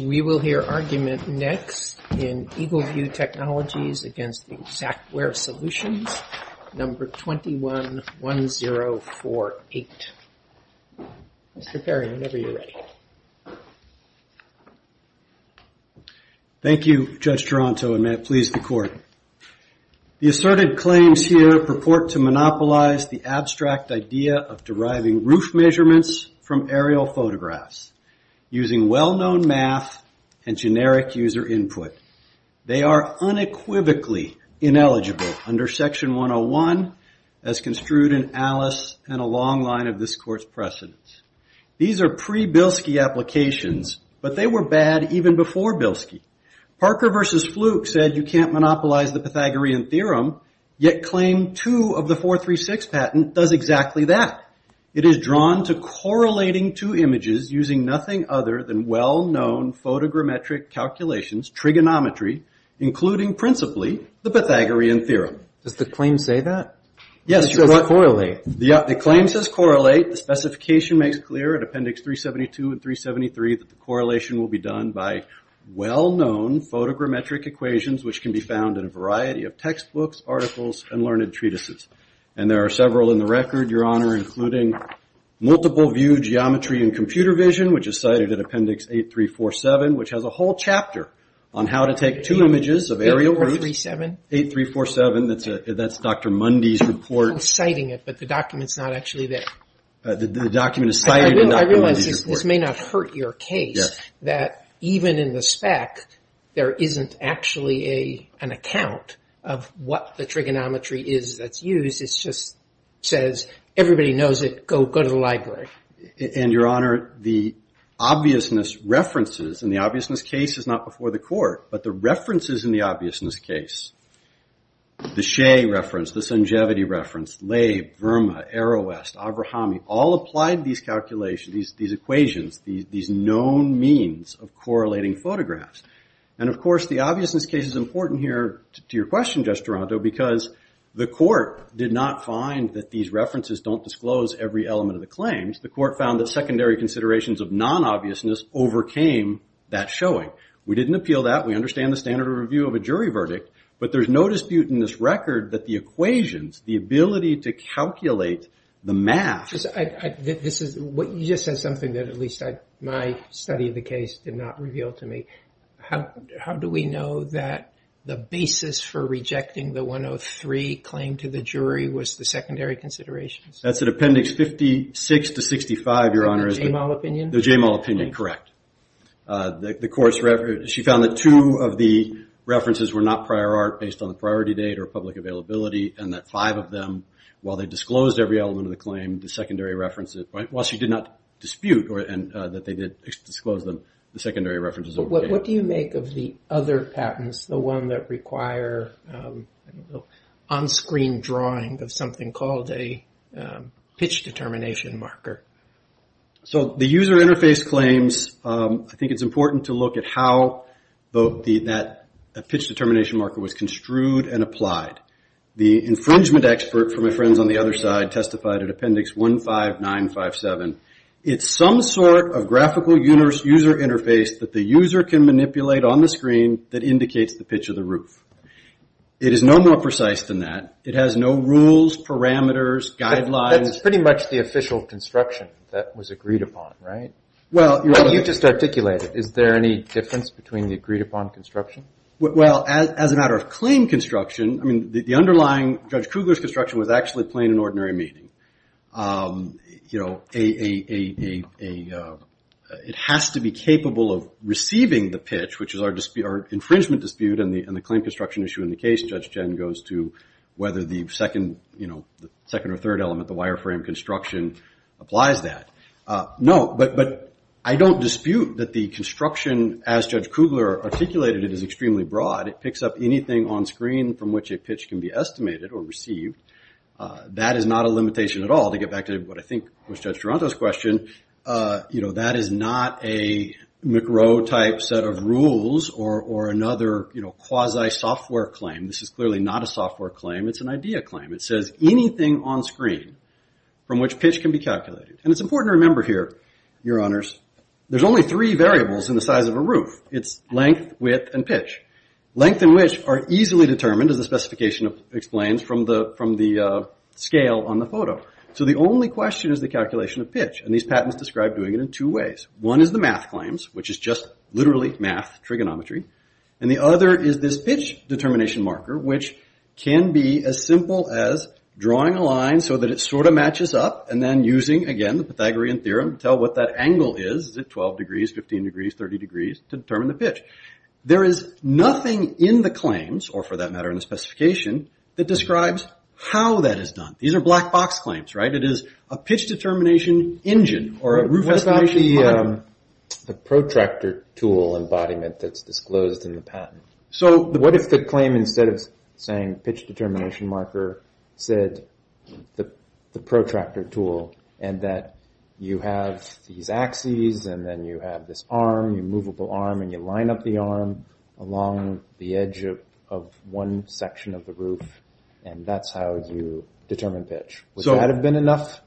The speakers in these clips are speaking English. We will hear argument next in Eagle View Technologies v. Xactware Solutions, No. 21-1048. Mr. Perry, whenever you're ready. Thank you, Judge Taranto, and may it please the Court. The asserted claims here purport to monopolize the abstract idea of deriving roof measurements from aerial photographs using well-known math and generic user input. They are unequivocally ineligible under Section 101 as construed in Alice and a long line of this Court's precedents. These are pre-Bilski applications, but they were bad even before Bilski. Parker v. Fluke said you can't monopolize the Pythagorean Theorem, yet Claim 2 of the 436 patent does exactly that. It is drawn to correlating two images using nothing other than well-known photogrammetric calculations, trigonometry, including principally the Pythagorean Theorem. Does the claim say that? It says correlate. The claim says correlate. The specification makes clear at Appendix 372 and 373 that the correlation will be done by well-known photogrammetric equations, which can be found in a variety of textbooks, articles, and learned treatises. And there are several in the record, Your Honor, including Multiple View Geometry and Computer Vision, which is cited at Appendix 8347, which has a whole chapter on how to take two images of aerial roofs. 8347? 8347. That's Dr. Mundy's report. I was citing it, but the document's not actually there. The document is cited in Dr. Mundy's report. I realize this may not hurt your case, that even in the spec, there isn't actually an account of what the trigonometry is that's used. It just says everybody knows it. Go to the library. And, Your Honor, the obviousness references, and the obviousness case is not before the court, but the references in the obviousness case, the Shea reference, the Sanjavati reference, Leib, Verma, Arrow West, Avrahami, all applied these calculations, these equations, these known means of correlating photographs. And, of course, the obviousness case is important here to your question, Judge Duranto, because the court did not find that these references don't disclose every element of the claims. The court found that secondary considerations of non-obviousness overcame that showing. We didn't appeal that. We understand the standard of review of a jury verdict, but there's no dispute in this record that the equations, the ability to calculate the math. You just said something that at least my study of the case did not reveal to me. How do we know that the basis for rejecting the 103 claim to the jury was the secondary considerations? That's in Appendix 56 to 65, Your Honor. The Jamal opinion? The Jamal opinion, correct. She found that two of the references were not prior art, based on the priority date or public availability, and that five of them, while they disclosed every element of the claim, the secondary references, while she did not dispute that they did disclose them, the secondary references overcame. What do you make of the other patents, the one that require on-screen drawing of something called a pitch determination marker? The user interface claims, I think it's important to look at how that pitch determination marker was construed and applied. The infringement expert from my friends on the other side testified at Appendix 15957. It's some sort of graphical user interface that the user can manipulate on the screen that indicates the pitch of the roof. It is no more precise than that. It has no rules, parameters, guidelines. That's pretty much the official construction that was agreed upon, right? You just articulated it. Is there any difference between the agreed-upon construction? Well, as a matter of claim construction, I mean, the underlying Judge Kugler's construction was actually plain and ordinary meeting. It has to be capable of receiving the pitch, which is our infringement dispute, and the claim construction issue in the case, Judge Jenn, goes to whether the second or third element, the wireframe construction, applies that. No, but I don't dispute that the construction, as Judge Kugler articulated it, is extremely broad. It picks up anything on screen from which a pitch can be estimated or received. That is not a limitation at all. To get back to what I think was Judge Duranto's question, that is not a McRowe-type set of rules or another quasi-software claim. This is clearly not a software claim. It's an idea claim. It says anything on screen from which pitch can be calculated. And it's important to remember here, Your Honors, there's only three variables in the size of a roof. It's length, width, and pitch. Length and width are easily determined, as the specification explains, from the scale on the photo. So the only question is the calculation of pitch, and these patents describe doing it in two ways. One is the math claims, which is just literally math, trigonometry, and the other is this pitch determination marker, which can be as simple as drawing a line so that it sort of matches up and then using, again, the Pythagorean theorem to tell what that angle is. Is it 12 degrees, 15 degrees, 30 degrees, to determine the pitch? There is nothing in the claims, or for that matter in the specification, that describes how that is done. These are black box claims, right? It is a pitch determination engine or a roof estimation model. The protractor tool embodiment that's disclosed in the patent. What if the claim, instead of saying pitch determination marker, said the protractor tool, and that you have these axes, and then you have this arm, a movable arm, and you line up the arm along the edge of one section of the roof, and that's how you determine pitch. Would that have been enough?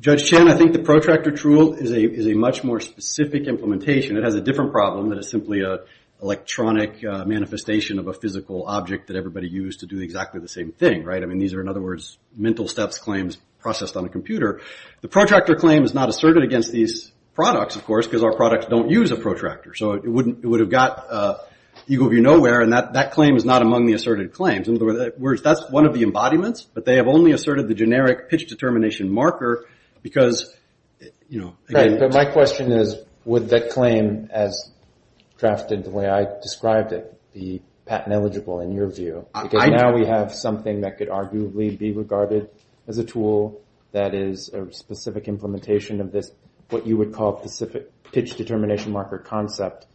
Judge Chen, I think the protractor tool is a much more specific implementation. It has a different problem. It is simply an electronic manifestation of a physical object that everybody used to do exactly the same thing, right? I mean, these are, in other words, mental steps claims processed on a computer. The protractor claim is not asserted against these products, of course, because our products don't use a protractor. So it would have got eagle view nowhere, and that claim is not among the asserted claims. In other words, that's one of the embodiments, but they have only asserted the generic pitch determination marker because, you know. But my question is, would that claim, as drafted the way I described it, be patent eligible in your view? Because now we have something that could arguably be regarded as a tool that is a specific implementation of this, what you would call specific pitch determination marker concept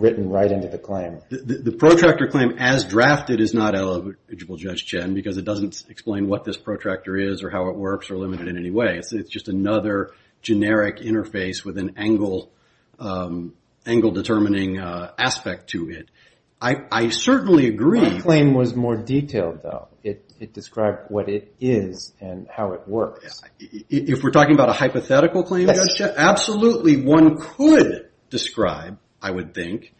written right into the claim. The protractor claim, as drafted, is not eligible, Judge Chen, because it doesn't explain what this protractor is or how it works or limit it in any way. It's just another generic interface with an angle determining aspect to it. I certainly agree. My claim was more detailed, though. It described what it is and how it works. Yes. Absolutely one could describe, I would think,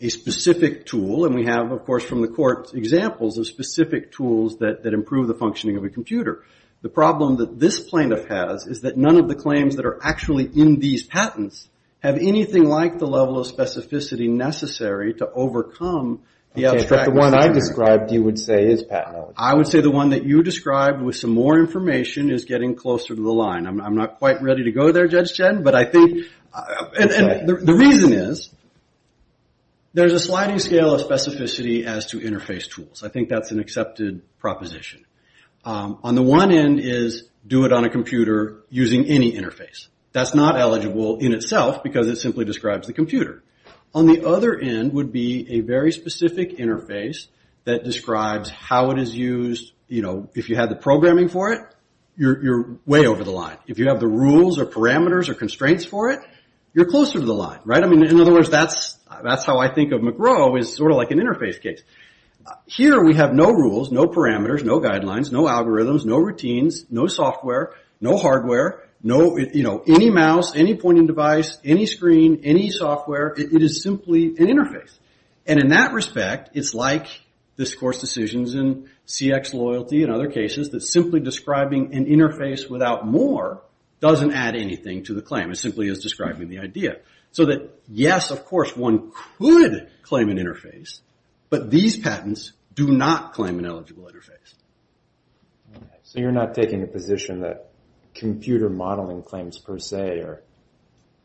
a specific tool. And we have, of course, from the court, examples of specific tools that improve the functioning of a computer. The problem that this plaintiff has is that none of the claims that are actually in these patents have anything like the level of specificity necessary to overcome the abstract. The one I described, you would say, is patent eligible. I would say the one that you described with some more information is getting closer to the line. I'm not quite ready to go there, Judge Chen. The reason is there's a sliding scale of specificity as to interface tools. I think that's an accepted proposition. On the one end is do it on a computer using any interface. That's not eligible in itself because it simply describes the computer. On the other end would be a very specific interface that describes how it is used. If you had the programming for it, you're way over the line. If you have the rules or parameters or constraints for it, you're closer to the line. In other words, that's how I think of McGraw is sort of like an interface case. Here we have no rules, no parameters, no guidelines, no algorithms, no routines, no software, no hardware, any mouse, any point and device, any screen, any software. It is simply an interface. In that respect, it's like discourse decisions in CX loyalty and other cases that simply describing an interface without more doesn't add anything to the claim. It simply is describing the idea. Yes, of course, one could claim an interface, but these patents do not claim an eligible interface. You're not taking a position that computer modeling claims per se are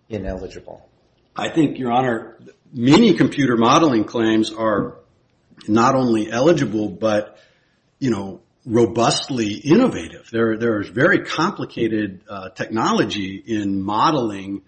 ineligible? I think, Your Honor, many computer modeling claims are not only eligible but robustly innovative. There is very complicated technology in modeling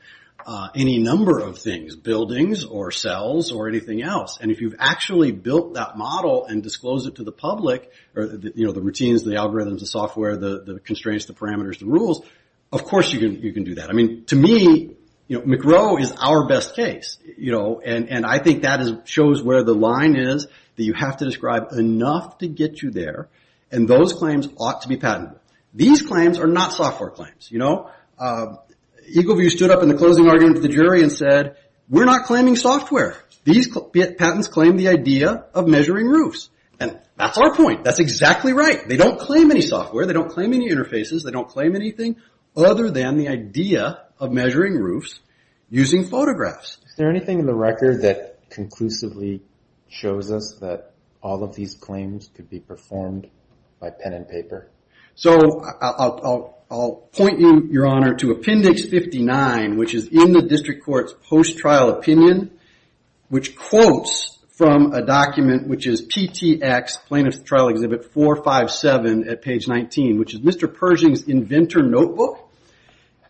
any number of things, buildings or cells or anything else. And if you've actually built that model and disclosed it to the public, the routines, the algorithms, the software, the constraints, the parameters, the rules, of course you can do that. I mean, to me, McRow is our best case. And I think that shows where the line is that you have to describe enough to get you there, and those claims ought to be patented. These claims are not software claims. Eagle View stood up in the closing argument to the jury and said, we're not claiming software. These patents claim the idea of measuring roofs. And that's our point. That's exactly right. They don't claim any software. They don't claim any interfaces. They don't claim anything other than the idea of measuring roofs using photographs. Is there anything in the record that conclusively shows us that all of these claims could be performed by pen and paper? So I'll point you, Your Honor, to Appendix 59, which is in the district court's post-trial opinion, which quotes from a document which is PTX plaintiff's trial exhibit 457 at page 19, which is Mr. Pershing's inventor notebook.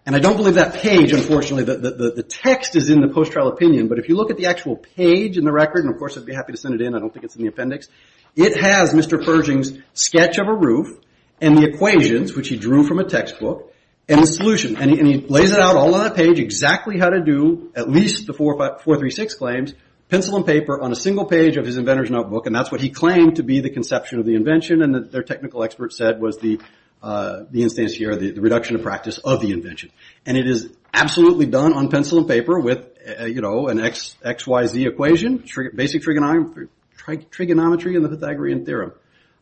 And I don't believe that page, unfortunately, the text is in the post-trial opinion. But if you look at the actual page in the record, and of course I'd be happy to send it in. I don't think it's in the appendix. It has Mr. Pershing's sketch of a roof and the equations, which he drew from a textbook, and the solution. And he lays it out all on a page exactly how to do, at least the 436 claims, pencil and paper on a single page of his inventor's notebook. And that's what he claimed to be the conception of the invention. And their technical expert said was the instance here, the reduction of practice of the invention. And it is absolutely done on pencil and paper with an XYZ equation, basic trigonometry and the Pythagorean theorem.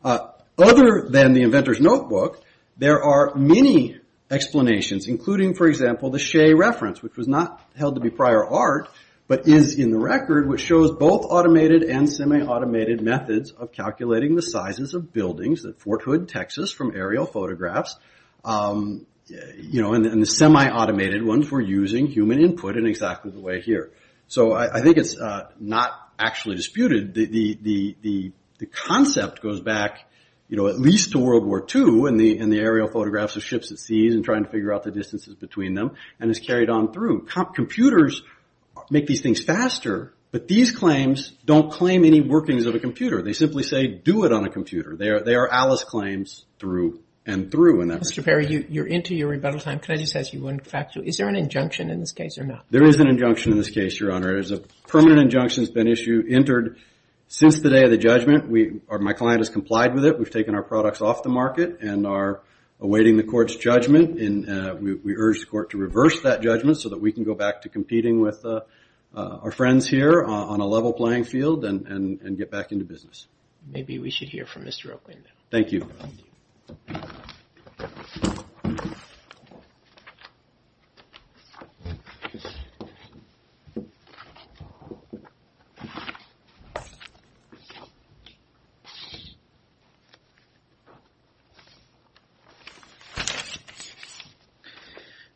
Other than the inventor's notebook, there are many explanations, including, for example, the Shea reference, which was not held to be prior art, but is in the record, which shows both automated and semi-automated methods of calculating the sizes of buildings at Fort Hood, Texas, from aerial photographs. And the semi-automated ones were using human input in exactly the way here. So I think it's not actually disputed. The concept goes back at least to World War II in the aerial photographs of ships at sea and trying to figure out the distances between them and is carried on through. Computers make these things faster, but these claims don't claim any workings of a computer. They simply say, do it on a computer. They are Alice claims through and through. Mr. Perry, you're into your rebuttal time. Can I just ask you one fact? Is there an injunction in this case or not? There is an injunction in this case, Your Honor. There is a permanent injunction that's been issued, entered since the day of the judgment. My client has complied with it. We've taken our products off the market and are awaiting the court's judgment. We urge the court to reverse that judgment so that we can go back to competing with our friends here on a level playing field and get back into business. Maybe we should hear from Mr. Oakley now. Thank you.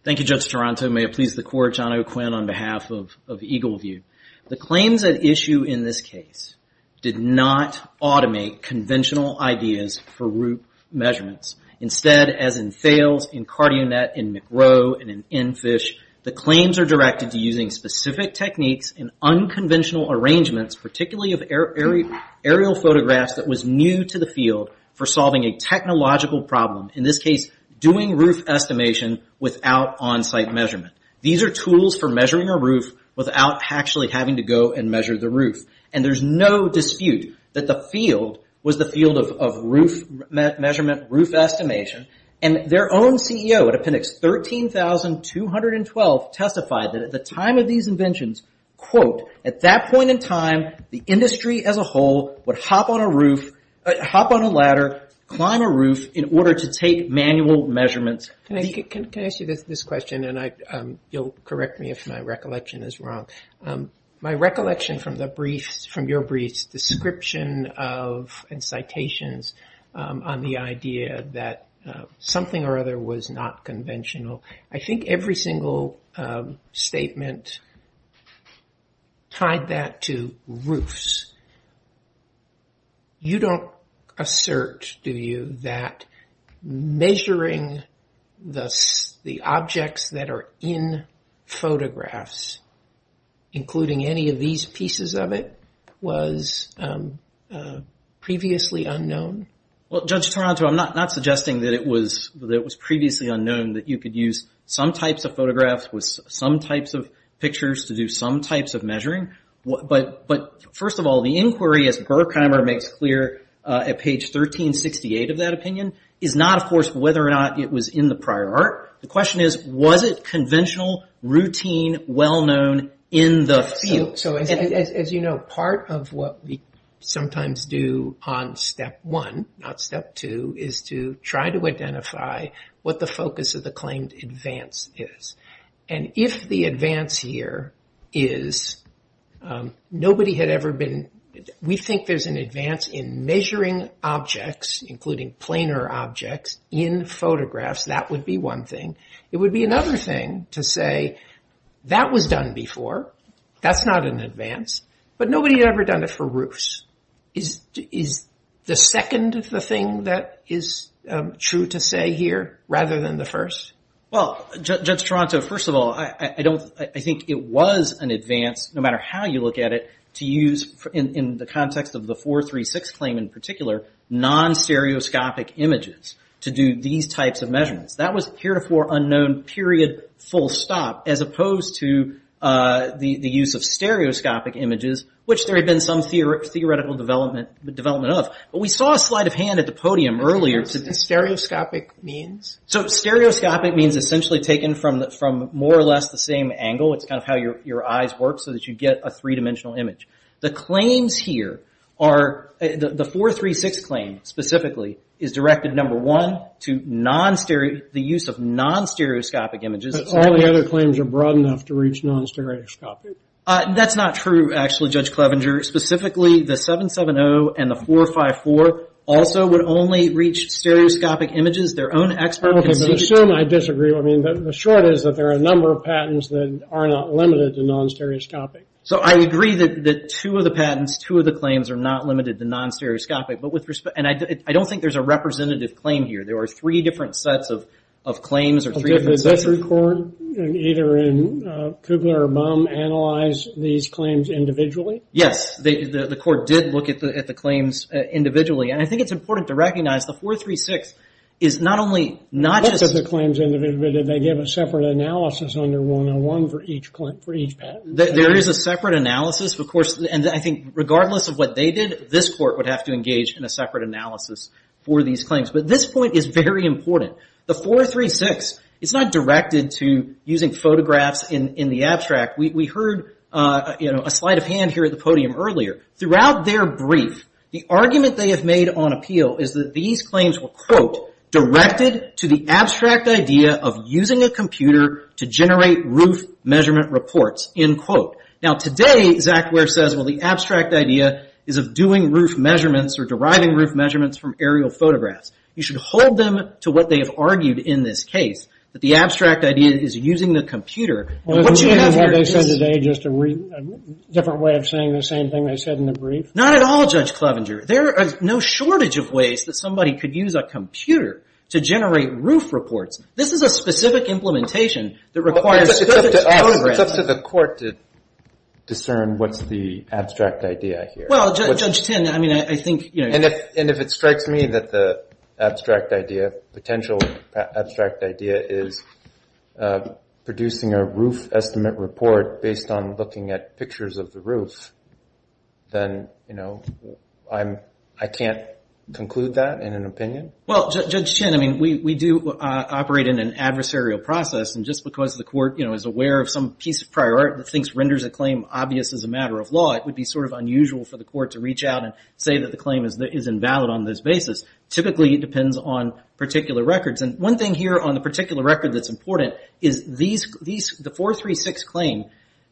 Thank you, Judge Toronto. May it please the court, John O'Quinn on behalf of Eagle View. The claims at issue in this case did not automate conventional ideas for route measurements. Instead, as in Fails, in Cardionet, in McRow, and in Enfish, the claims are directed to using specific techniques and unconventional arrangements, particularly of aerial photographs that was new to the field for solving a technological problem. In this case, doing roof estimation without on-site measurement. These are tools for measuring a roof without actually having to go and measure the roof. There's no dispute that the field was the field of roof measurement, roof estimation. And their own CEO at appendix 13,212 testified that at the time of these inventions, quote, at that point in time, the industry as a whole would hop on a roof, hop on a ladder, climb a roof in order to take manual measurements. Can I ask you this question? And you'll correct me if my recollection is wrong. My recollection from the briefs, from your briefs, description of and citations on the idea that something or other was not conventional, I think every single statement tied that to roofs. You don't assert, do you, that measuring the objects that are in photographs including any of these pieces of it was previously unknown? Well, Judge Taranto, I'm not suggesting that it was previously unknown, that you could use some types of photographs with some types of pictures to do some types of measuring. But first of all, the inquiry, as Burkheimer makes clear at page 1368 of that opinion, is not, of course, whether or not it was in the prior art. The question is, was it conventional, routine, well-known in the field? As you know, part of what we sometimes do on step one, not step two, is to try to identify what the focus of the claimed advance is. And if the advance here is nobody had ever been, we think there's an advance in measuring objects, including planar objects, in photographs, that would be one thing. It would be another thing to say, that was done before, that's not an advance, but nobody had ever done it for roofs. Is the second the thing that is true to say here, rather than the first? Well, Judge Taranto, first of all, I think it was an advance, no matter how you look at it, to use, in the context of the 436 claim in particular, non-stereoscopic images to do these types of measurements. That was heretofore unknown, period, full stop, as opposed to the use of stereoscopic images, which there had been some theoretical development of. But we saw a slight of hand at the podium earlier. What does stereoscopic mean? So stereoscopic means essentially taken from more or less the same angle. It's kind of how your eyes work, so that you get a three-dimensional image. The claims here are, the 436 claim specifically, is directed, number one, to the use of non-stereoscopic images. But all the other claims are broad enough to reach non-stereoscopic. That's not true, actually, Judge Clevenger. Specifically, the 770 and the 454 also would only reach stereoscopic images. Their own expert can see to it. Okay, but assume I disagree. I mean, the short is that there are a number of patents that are not limited to non-stereoscopic. So I agree that two of the patents, two of the claims, are not limited to non-stereoscopic. And I don't think there's a representative claim here. There are three different sets of claims. Did the district court, either in Kugler or Baum, analyze these claims individually? Yes. The court did look at the claims individually. And I think it's important to recognize the 436 is not only not just... Not just the claims individually. Did they give a separate analysis under 101 for each patent? There is a separate analysis, of course. And I think regardless of what they did, this court would have to engage in a separate analysis for these claims. But this point is very important. The 436 is not directed to using photographs in the abstract. We heard a sleight of hand here at the podium earlier. Throughout their brief, the argument they have made on appeal is that these claims were, quote, of using a computer to generate roof measurement reports, end quote. Now, today, Zach Weir says, well, the abstract idea is of doing roof measurements or deriving roof measurements from aerial photographs. You should hold them to what they have argued in this case, that the abstract idea is using the computer. Well, isn't what they said today just a different way of saying the same thing they said in the brief? Not at all, Judge Clevenger. There is no shortage of ways that somebody could use a computer to generate roof reports. This is a specific implementation that requires... It's up to the court to discern what's the abstract idea here. Well, Judge Tinn, I mean, I think... And if it strikes me that the abstract idea, potential abstract idea is producing a roof estimate report based on looking at pictures of the roof, Well, Judge Tinn, I mean, we do operate in an adversarial process, and just because the court, you know, is aware of some piece of prior art that thinks renders a claim obvious as a matter of law, it would be sort of unusual for the court to reach out and say that the claim is invalid on this basis. Typically, it depends on particular records. And one thing here on the particular record that's important is the 436 claim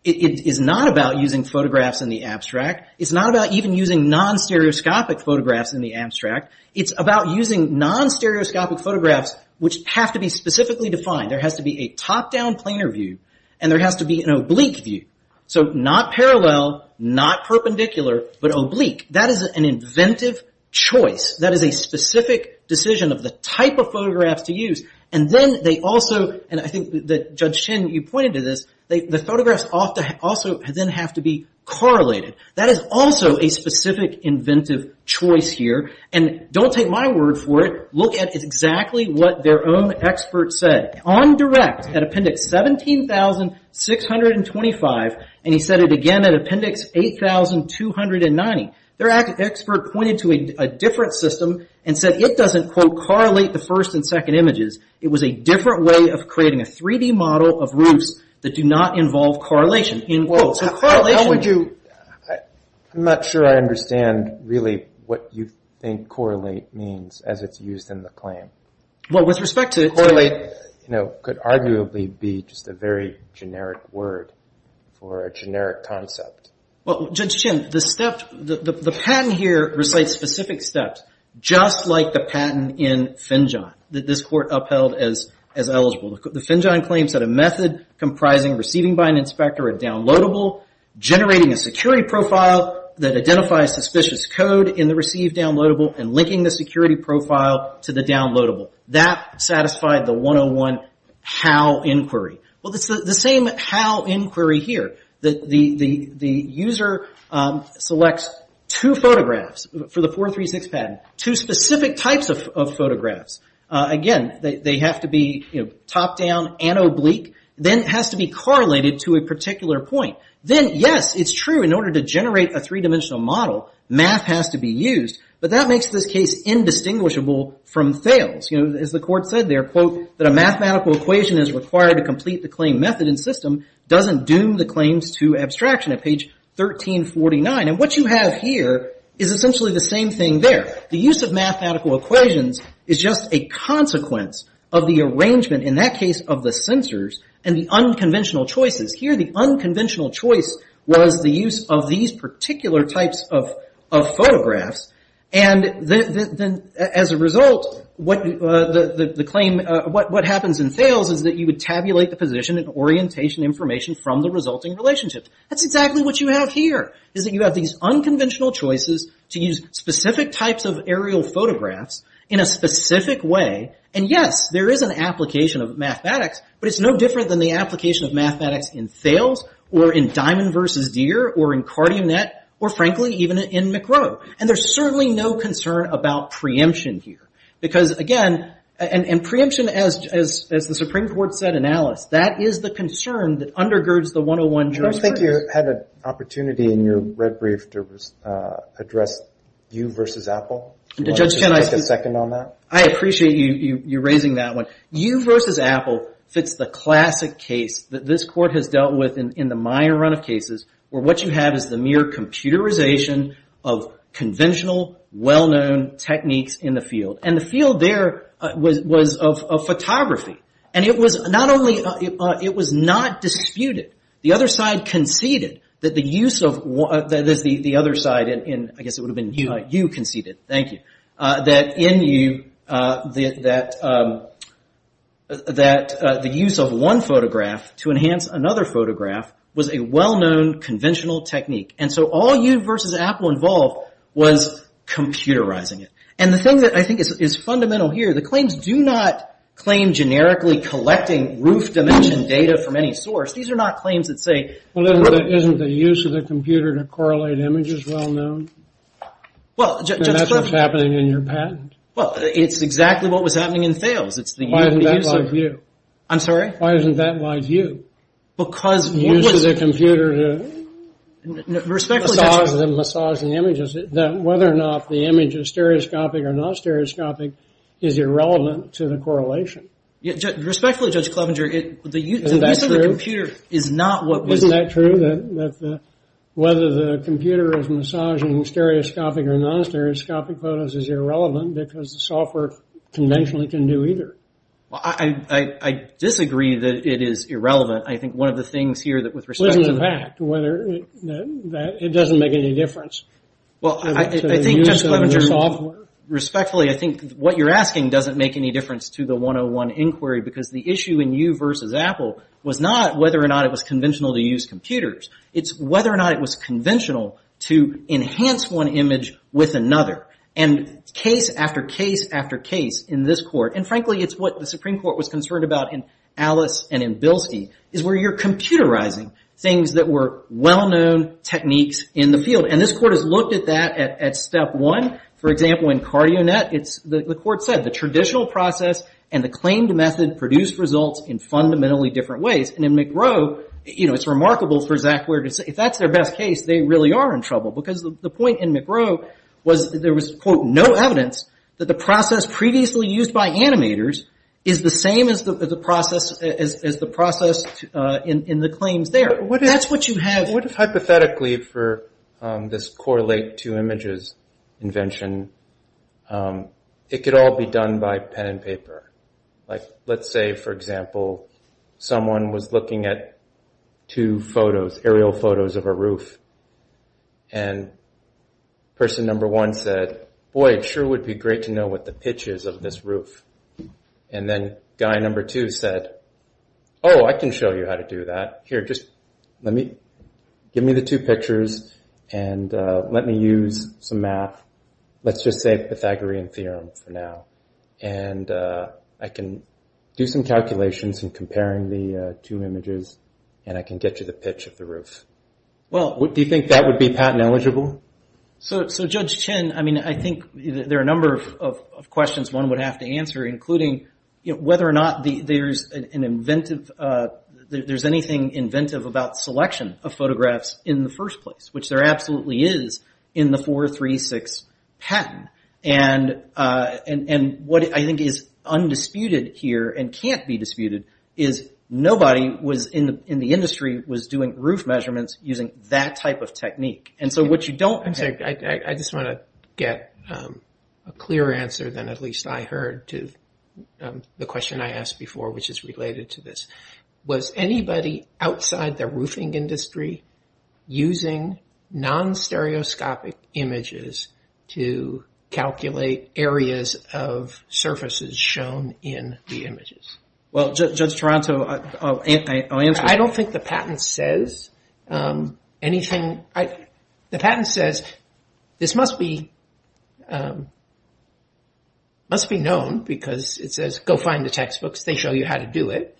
is not about using photographs in the abstract. It's not about even using non-stereoscopic photographs in the abstract. It's about using non-stereoscopic photographs which have to be specifically defined. There has to be a top-down planar view, and there has to be an oblique view. So not parallel, not perpendicular, but oblique. That is an inventive choice. That is a specific decision of the type of photographs to use. And then they also... And I think that Judge Tinn, you pointed to this. The photographs also then have to be correlated. That is also a specific inventive choice here. And don't take my word for it. Look at exactly what their own expert said. On direct, at Appendix 17,625, and he said it again at Appendix 8,290, their expert pointed to a different system and said it doesn't, quote, correlate the first and second images. It was a different way of creating a 3D model of roofs that do not involve correlation, end quote. So correlation... I'm not sure I understand really what you think correlate means as it's used in the claim. Well, with respect to... Correlate could arguably be just a very generic word for a generic concept. Well, Judge Tinn, the patent here recites specific steps, just like the patent in FinJON that this Court upheld as eligible. The FinJON claims that a method comprising receiving by an inspector or a downloadable generating a security profile that identifies suspicious code in the received downloadable and linking the security profile to the downloadable. That satisfied the 101 how inquiry. Well, it's the same how inquiry here. The user selects two photographs for the 436 patent, two specific types of photographs. Again, they have to be top-down and oblique. Then it has to be correlated to a particular point. Then, yes, it's true in order to generate a three-dimensional model, math has to be used, but that makes this case indistinguishable from Thales. As the Court said there, that a mathematical equation is required to complete the claim method and system doesn't doom the claims to abstraction at page 1349. And what you have here is essentially the same thing there. The use of mathematical equations is just a consequence of the arrangement, in that case, of the sensors and the unconventional choices. Here, the unconventional choice was the use of these particular types of photographs. And as a result, what happens in Thales is that you would tabulate the position and orientation information from the resulting relationship. That's exactly what you have here, is that you have these unconventional choices to use specific types of aerial photographs in a specific way. And, yes, there is an application of mathematics, but it's no different than the application of mathematics in Thales or in Diamond v. Deere or in CardioNet or, frankly, even in McRow. And there's certainly no concern about preemption here because, again, and preemption, as the Supreme Court said in Alice, that is the concern that undergirds the 101-Jurisprudence. I think you had an opportunity in your red brief to address you versus Apple. Do you want to just take a second on that? I appreciate you raising that one. You versus Apple fits the classic case that this Court has dealt with in the minor run of cases where what you have is the mere computerization of conventional, well-known techniques in the field. And the field there was of photography. And it was not only... It was not disputed. The other side conceded that the use of... That is, the other side in... I guess it would have been you conceded. Thank you. That in you, that the use of one photograph to enhance another photograph was a well-known conventional technique. And so all you versus Apple involved was computerizing it. And the thing that I think is fundamental here, the claims do not claim generically collecting roof dimension data from any source. These are not claims that say... And that's what's happening in your patent. It's exactly what was happening in Thales. Why doesn't that lie to you? The use of the computer to massage the images. Whether or not the image is stereoscopic or non-stereoscopic is irrelevant to the correlation. Respectfully, Judge Clevenger, the use of the computer is not what was... Isn't that true that whether the computer is massaging stereoscopic or non-stereoscopic photos is irrelevant because the software conventionally can do either? I disagree that it is irrelevant. I think one of the things here that with respect to... It doesn't make any difference. Well, I think, Judge Clevenger, respectfully, I think what you're asking doesn't make any difference to the 101 Inquiry because the issue in you versus Apple was not whether or not it was conventional to use computers. It's whether or not it was conventional to enhance one image with another. And case after case after case in this Court, and frankly, it's what the Supreme Court was concerned about in Alice and in Bilski, is where you're computerizing things that were well-known techniques in the field. And this Court has looked at that at step one. For example, in CardioNet, the Court said, the traditional process and the claimed method produce results in fundamentally different ways. And in McGrow, it's remarkable for Zach Weir to say if that's their best case, they really are in trouble because the point in McGrow was there was, quote, no evidence that the process previously used by animators is the same as the process in the claims there. That's what you have. And what if hypothetically for this correlate two images invention, it could all be done by pen and paper? Like, let's say, for example, someone was looking at two photos, aerial photos of a roof, and person number one said, boy, it sure would be great to know what the pitch is of this roof. And then guy number two said, oh, I can show you how to do that. Here, just give me the two pictures and let me use some math. Let's just say Pythagorean Theorem for now. And I can do some calculations in comparing the two images and I can get you the pitch of the roof. Do you think that would be patent eligible? So Judge Chen, I think there are a number of questions one would have to answer, including whether or not there's anything inventive about selection of photographs in the first place, which there absolutely is in the 436 patent. And what I think is undisputed here and can't be disputed is nobody in the industry was doing roof measurements using that type of technique. And so what you don't... I just want to get a clear answer than at least I heard to the question I asked before, which is related to this. Was anybody outside the roofing industry using non-stereoscopic images to calculate areas of surfaces shown in the images? Well, Judge Toronto, I'll answer that. I don't think the patent says anything... This must be known because it says go find the textbooks, they show you how to do it.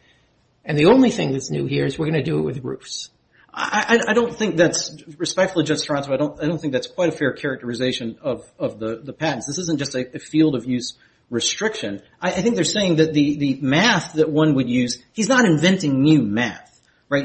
And the only thing that's new here is we're going to do it with roofs. I don't think that's... Respectfully, Judge Toronto, I don't think that's quite a fair characterization of the patents. This isn't just a field of use restriction. I think they're saying that the math that one would use... He's not inventing new math, right? I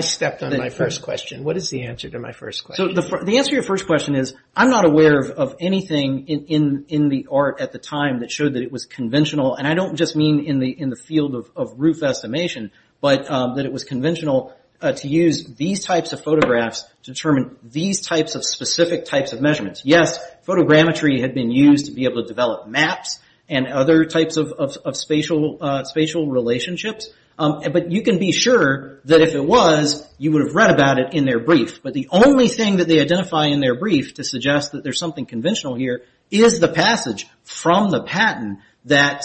stepped on my first question. What is the answer to my first question? The answer to your first question is I'm not aware of anything in the art at the time that showed that it was conventional. And I don't just mean in the field of roof estimation, but that it was conventional to use these types of photographs to determine these types of specific types of measurements. Yes, photogrammetry had been used to be able to develop maps and other types of spatial relationships, but you can be sure that if it was, you would have read about it in their brief. But the only thing that they identify in their brief to suggest that there's something conventional here is the passage from the patent that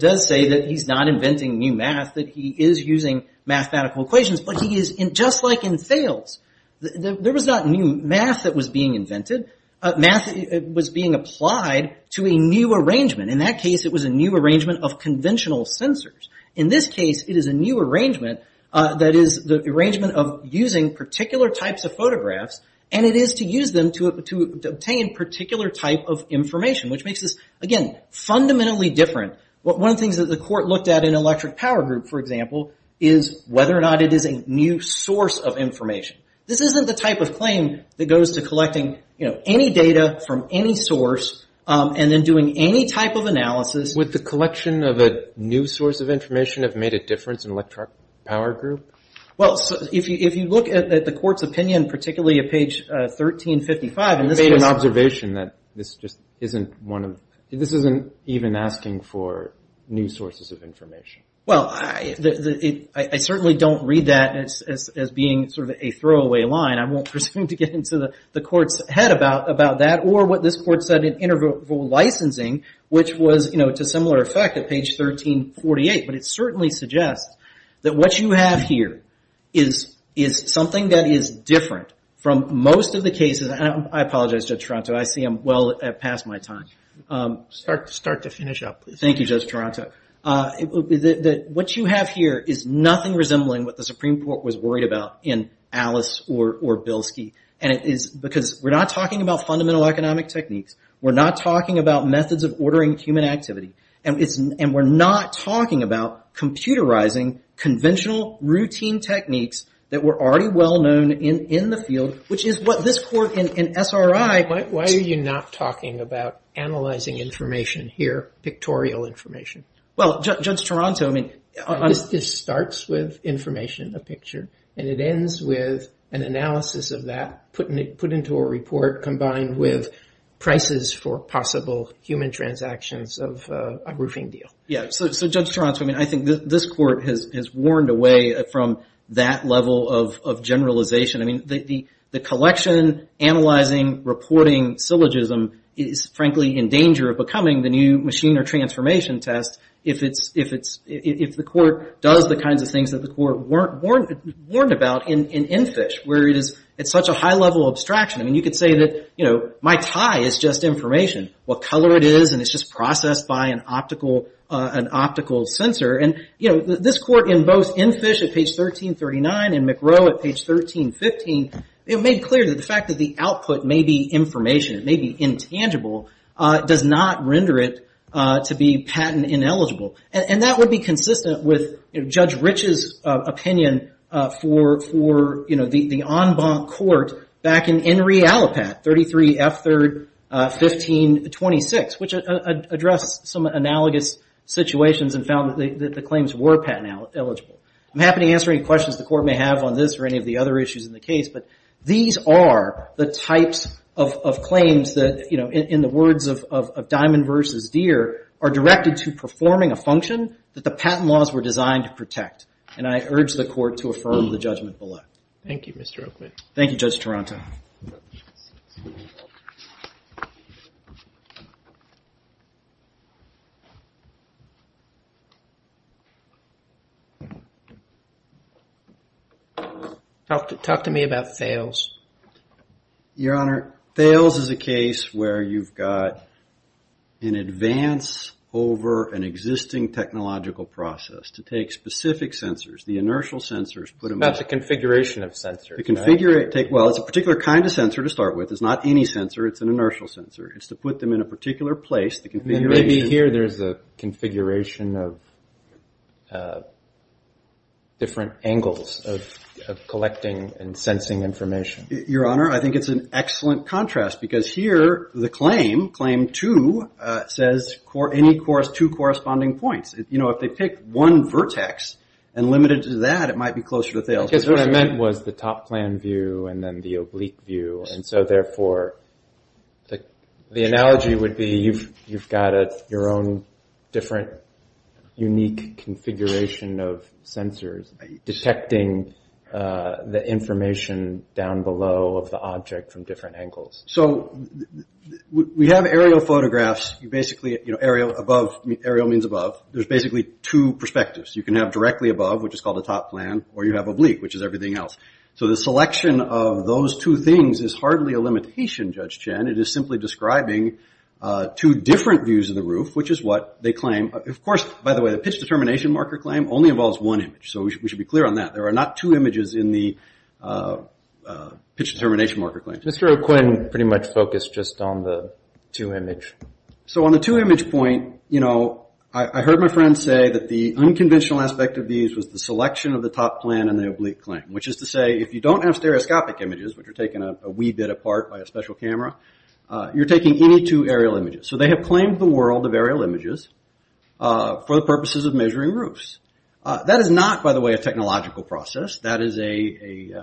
does say that he's not inventing new math, that he is using mathematical equations, but he is just like in Thales. There was not new math that was being invented. Math was being applied to a new arrangement. In that case, it was a new arrangement of conventional sensors. In this case, it is a new arrangement that is the arrangement of using particular types of photographs, and it is to use them to obtain particular type of information, which makes this, again, fundamentally different. One of the things that the court looked at in Electric Power Group, for example, is whether or not it is a new source of information. This isn't the type of claim that goes to collecting any data from any source and then doing any type of analysis. Would the collection of a new source of information have made a difference in Electric Power Group? Well, if you look at the court's opinion, particularly at page 1355, it made an observation that this isn't even asking for new sources of information. Well, I certainly don't read that as being sort of a throwaway line. I won't presume to get into the court's head about that, or what this court said in interval licensing, which was to similar effect at page 1348. But it certainly suggests that what you have here is something that is different from most of the cases. I apologize, Judge Toronto, I see I'm well past my time. Start to finish up, please. Thank you, Judge Toronto. What you have here is nothing resembling what the Supreme Court was worried about in Alice or Bilski. Because we're not talking about fundamental economic techniques, we're not talking about methods of ordering human activity, and we're not talking about computerizing conventional routine techniques that were already well known in the field, which is what this court in SRI... Well, Judge Toronto, I mean... This starts with information, a picture, and it ends with an analysis of that put into a report combined with prices for possible human transactions of a roofing deal. Yeah, so Judge Toronto, I mean, I think this court has worn away from that level of generalization. I mean, the collection, analyzing, reporting syllogism is frankly in danger of becoming the new machine or transformation test if the court does the kinds of things that the court warned about in Enfish, where it's such a high-level abstraction. I mean, you could say that my tie is just information, what color it is, and it's just processed by an optical sensor. This court in both Enfish at page 1339 and McRow at page 1315 made clear that the fact that the output may be information, it may be intangible, does not render it to be patent ineligible. And that would be consistent with Judge Rich's opinion for the en banc court back in Enri Allipat, 33 F. 3rd 1526, which addressed some analogous situations and found that the claims were patent eligible. I'm happy to answer any questions the court may have on this or any of the other issues in the case, but these are the types of claims that in the words of Diamond v. Deere are directed to performing a function that the patent laws were designed to protect. And I urge the court to affirm the judgment below. Thank you, Mr. Oakley. Thank you, Judge Taranto. Talk to me about Thales. Your Honor, Thales is a case where you've got an advance over an existing technological process to take specific sensors, the inertial sensors, put them... It's about the configuration of sensors, right? Well, it's a particular kind of sensor to start with. It's not any sensor. It's an inertial sensor. It's to put them in a particular place, the configuration... Maybe here there's a configuration of different angles of collecting and sensing information. Your Honor, I think it's an excellent contrast because here the claim, claim two, says any two corresponding points. If they pick one vertex and limit it to that, it might be closer to Thales. Because what I meant was the top plan view and then the oblique view, and so therefore the analogy would be you've got your own different unique configuration of sensors detecting the information down below of the object from different angles. So we have aerial photographs. You basically... Aerial above... Aerial means above. There's basically two perspectives. You can have directly above, which is called the top plan, or you have oblique, which is everything else. So the selection of those two things is hardly a limitation, Judge Chen. It is simply describing two different views of the roof, which is what they claim. Of course, by the way, the pitch determination marker claim only involves one image, so we should be clear on that. There are not two images in the pitch determination marker claim. Mr. O'Quinn pretty much focused just on the two image. So on the two image point, you know, I heard my friend say that the unconventional aspect of these was the selection of the top plan and the oblique claim, which is to say if you don't have stereoscopic images, which are taken a wee bit apart by a special camera, you're taking any two aerial images. So they have claimed the world of aerial images for the purposes of measuring roofs. That is not, by the way, a technological process. That is a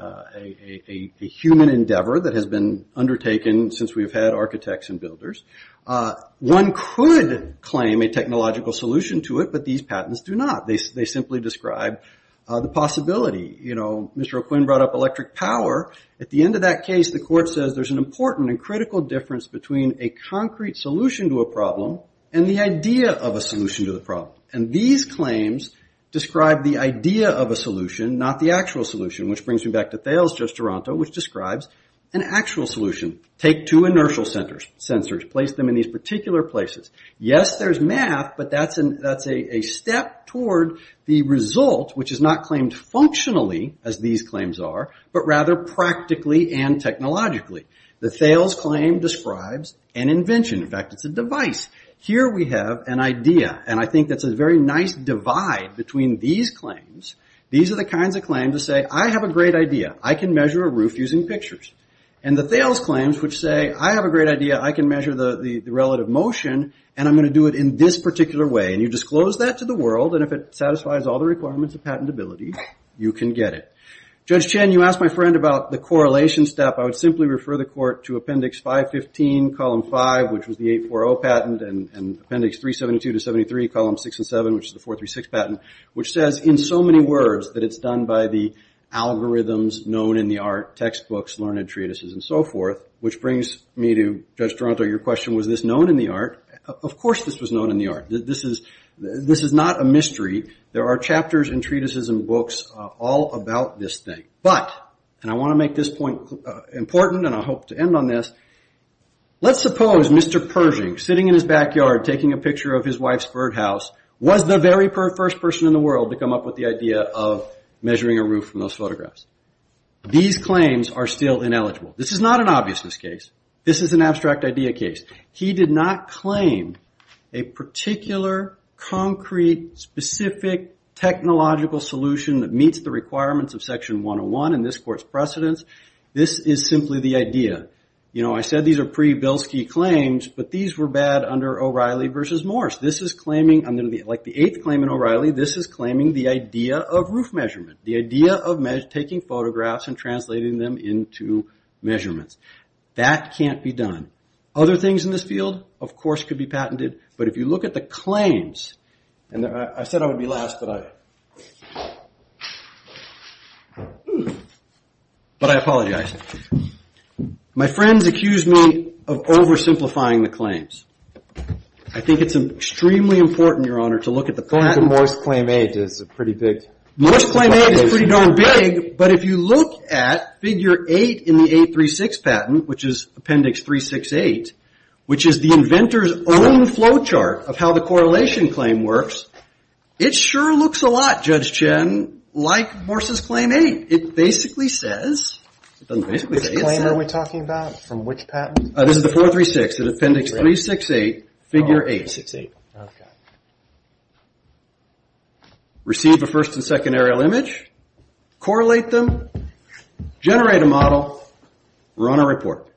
human endeavor that has been undertaken since we've had architects and builders. One could claim a technological solution to it, but these patents do not. They simply describe the possibility. You know, Mr. O'Quinn brought up electric power. At the end of that case, the court says there's an important and critical difference between a concrete solution to a problem and the idea of a solution to the problem. And these claims describe the idea of a solution, not the actual solution, which brings me back to Thales, Judge Toronto, which describes an actual solution. Take two inertial sensors, place them in these particular places. Yes, there's math, but that's a step toward the result, which is not claimed functionally, as these claims are, but rather practically and technologically. The Thales claim describes an invention. In fact, it's a device. Here we have an idea, and I think that's a very nice divide between these claims. These are the kinds of claims that say, I have a great idea. I can measure a roof using pictures. And the Thales claims, which say, I have a great idea. I can measure the relative motion, and I'm going to do it in this particular way. And you disclose that to the world, and if it satisfies all the requirements of patentability, you can get it. Judge Chen, you asked my friend about the correlation step. I would simply refer the Court to Appendix 515, Column 5, which was the 840 patent, and Appendix 372-73, Columns 6 and 7, which is the 436 patent, which says, in so many words, that it's done by the algorithms known in the art, textbooks, learned treatises, and so forth, which brings me to, Judge Toronto, your question, was this known in the art? Of course this was known in the art. This is not a mystery. There are chapters and treatises and books all about this thing. But, and I want to make this point important, and I hope to end on this, let's suppose Mr. Pershing, sitting in his backyard, taking a picture of his wife's birdhouse, was the very first person in the world to come up with the idea of measuring a roof from those photographs. These claims are still ineligible. This is not an obviousness case. This is an abstract idea case. He did not claim a particular concrete, specific, technological solution that meets the requirements of Section 101 in this court's precedence. This is simply the idea. You know, I said these are pre-Bilski claims, but these were bad under O'Reilly versus Morse. This is claiming, like the 8th claim in O'Reilly, this is claiming the idea of roof measurement. The idea of taking photographs and translating them into measurements. That can't be done. Other things in this field of course could be patented, but if you look at the claims and I said I would be last, but I but I apologize. My friends accuse me of oversimplifying the claims. I think it's extremely important, Your Honor, to look at the patents. Morse claim 8 is pretty darn big, but if you look at figure 8 in the 836 patent, which is Appendix 368, which is the inventor's own flow chart of how the correlation claim works, it sure looks a lot, Judge Chen, like Morse's claim 8. It basically says Which claim are we talking about? From which patent? This is the 436 in Appendix 368, figure 868. Receive a first and second aerial image, correlate them, generate a model, run a report.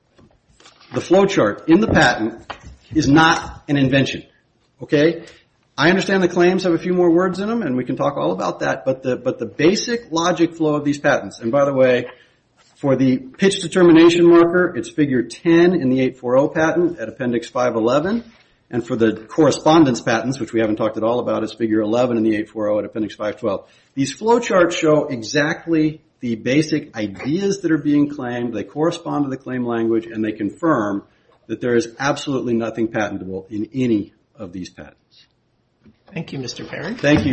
The flow chart in the patent is not an invention. I understand the claims have a few more words in them and we can talk all about that, but the basic logic flow of these patents, and by the way, for the pitch determination marker, it's figure 10 in the 840 patent at Appendix 511, and for the correspondence patents, which we haven't talked at all about, it's figure 11 in the 840 at Appendix 512. These flow charts show exactly the basic ideas that are being claimed, they correspond to the claim language, and they confirm that there is absolutely nothing patentable in any of these patents. Thank you, Mr. Perry. Thank you, Your Honors.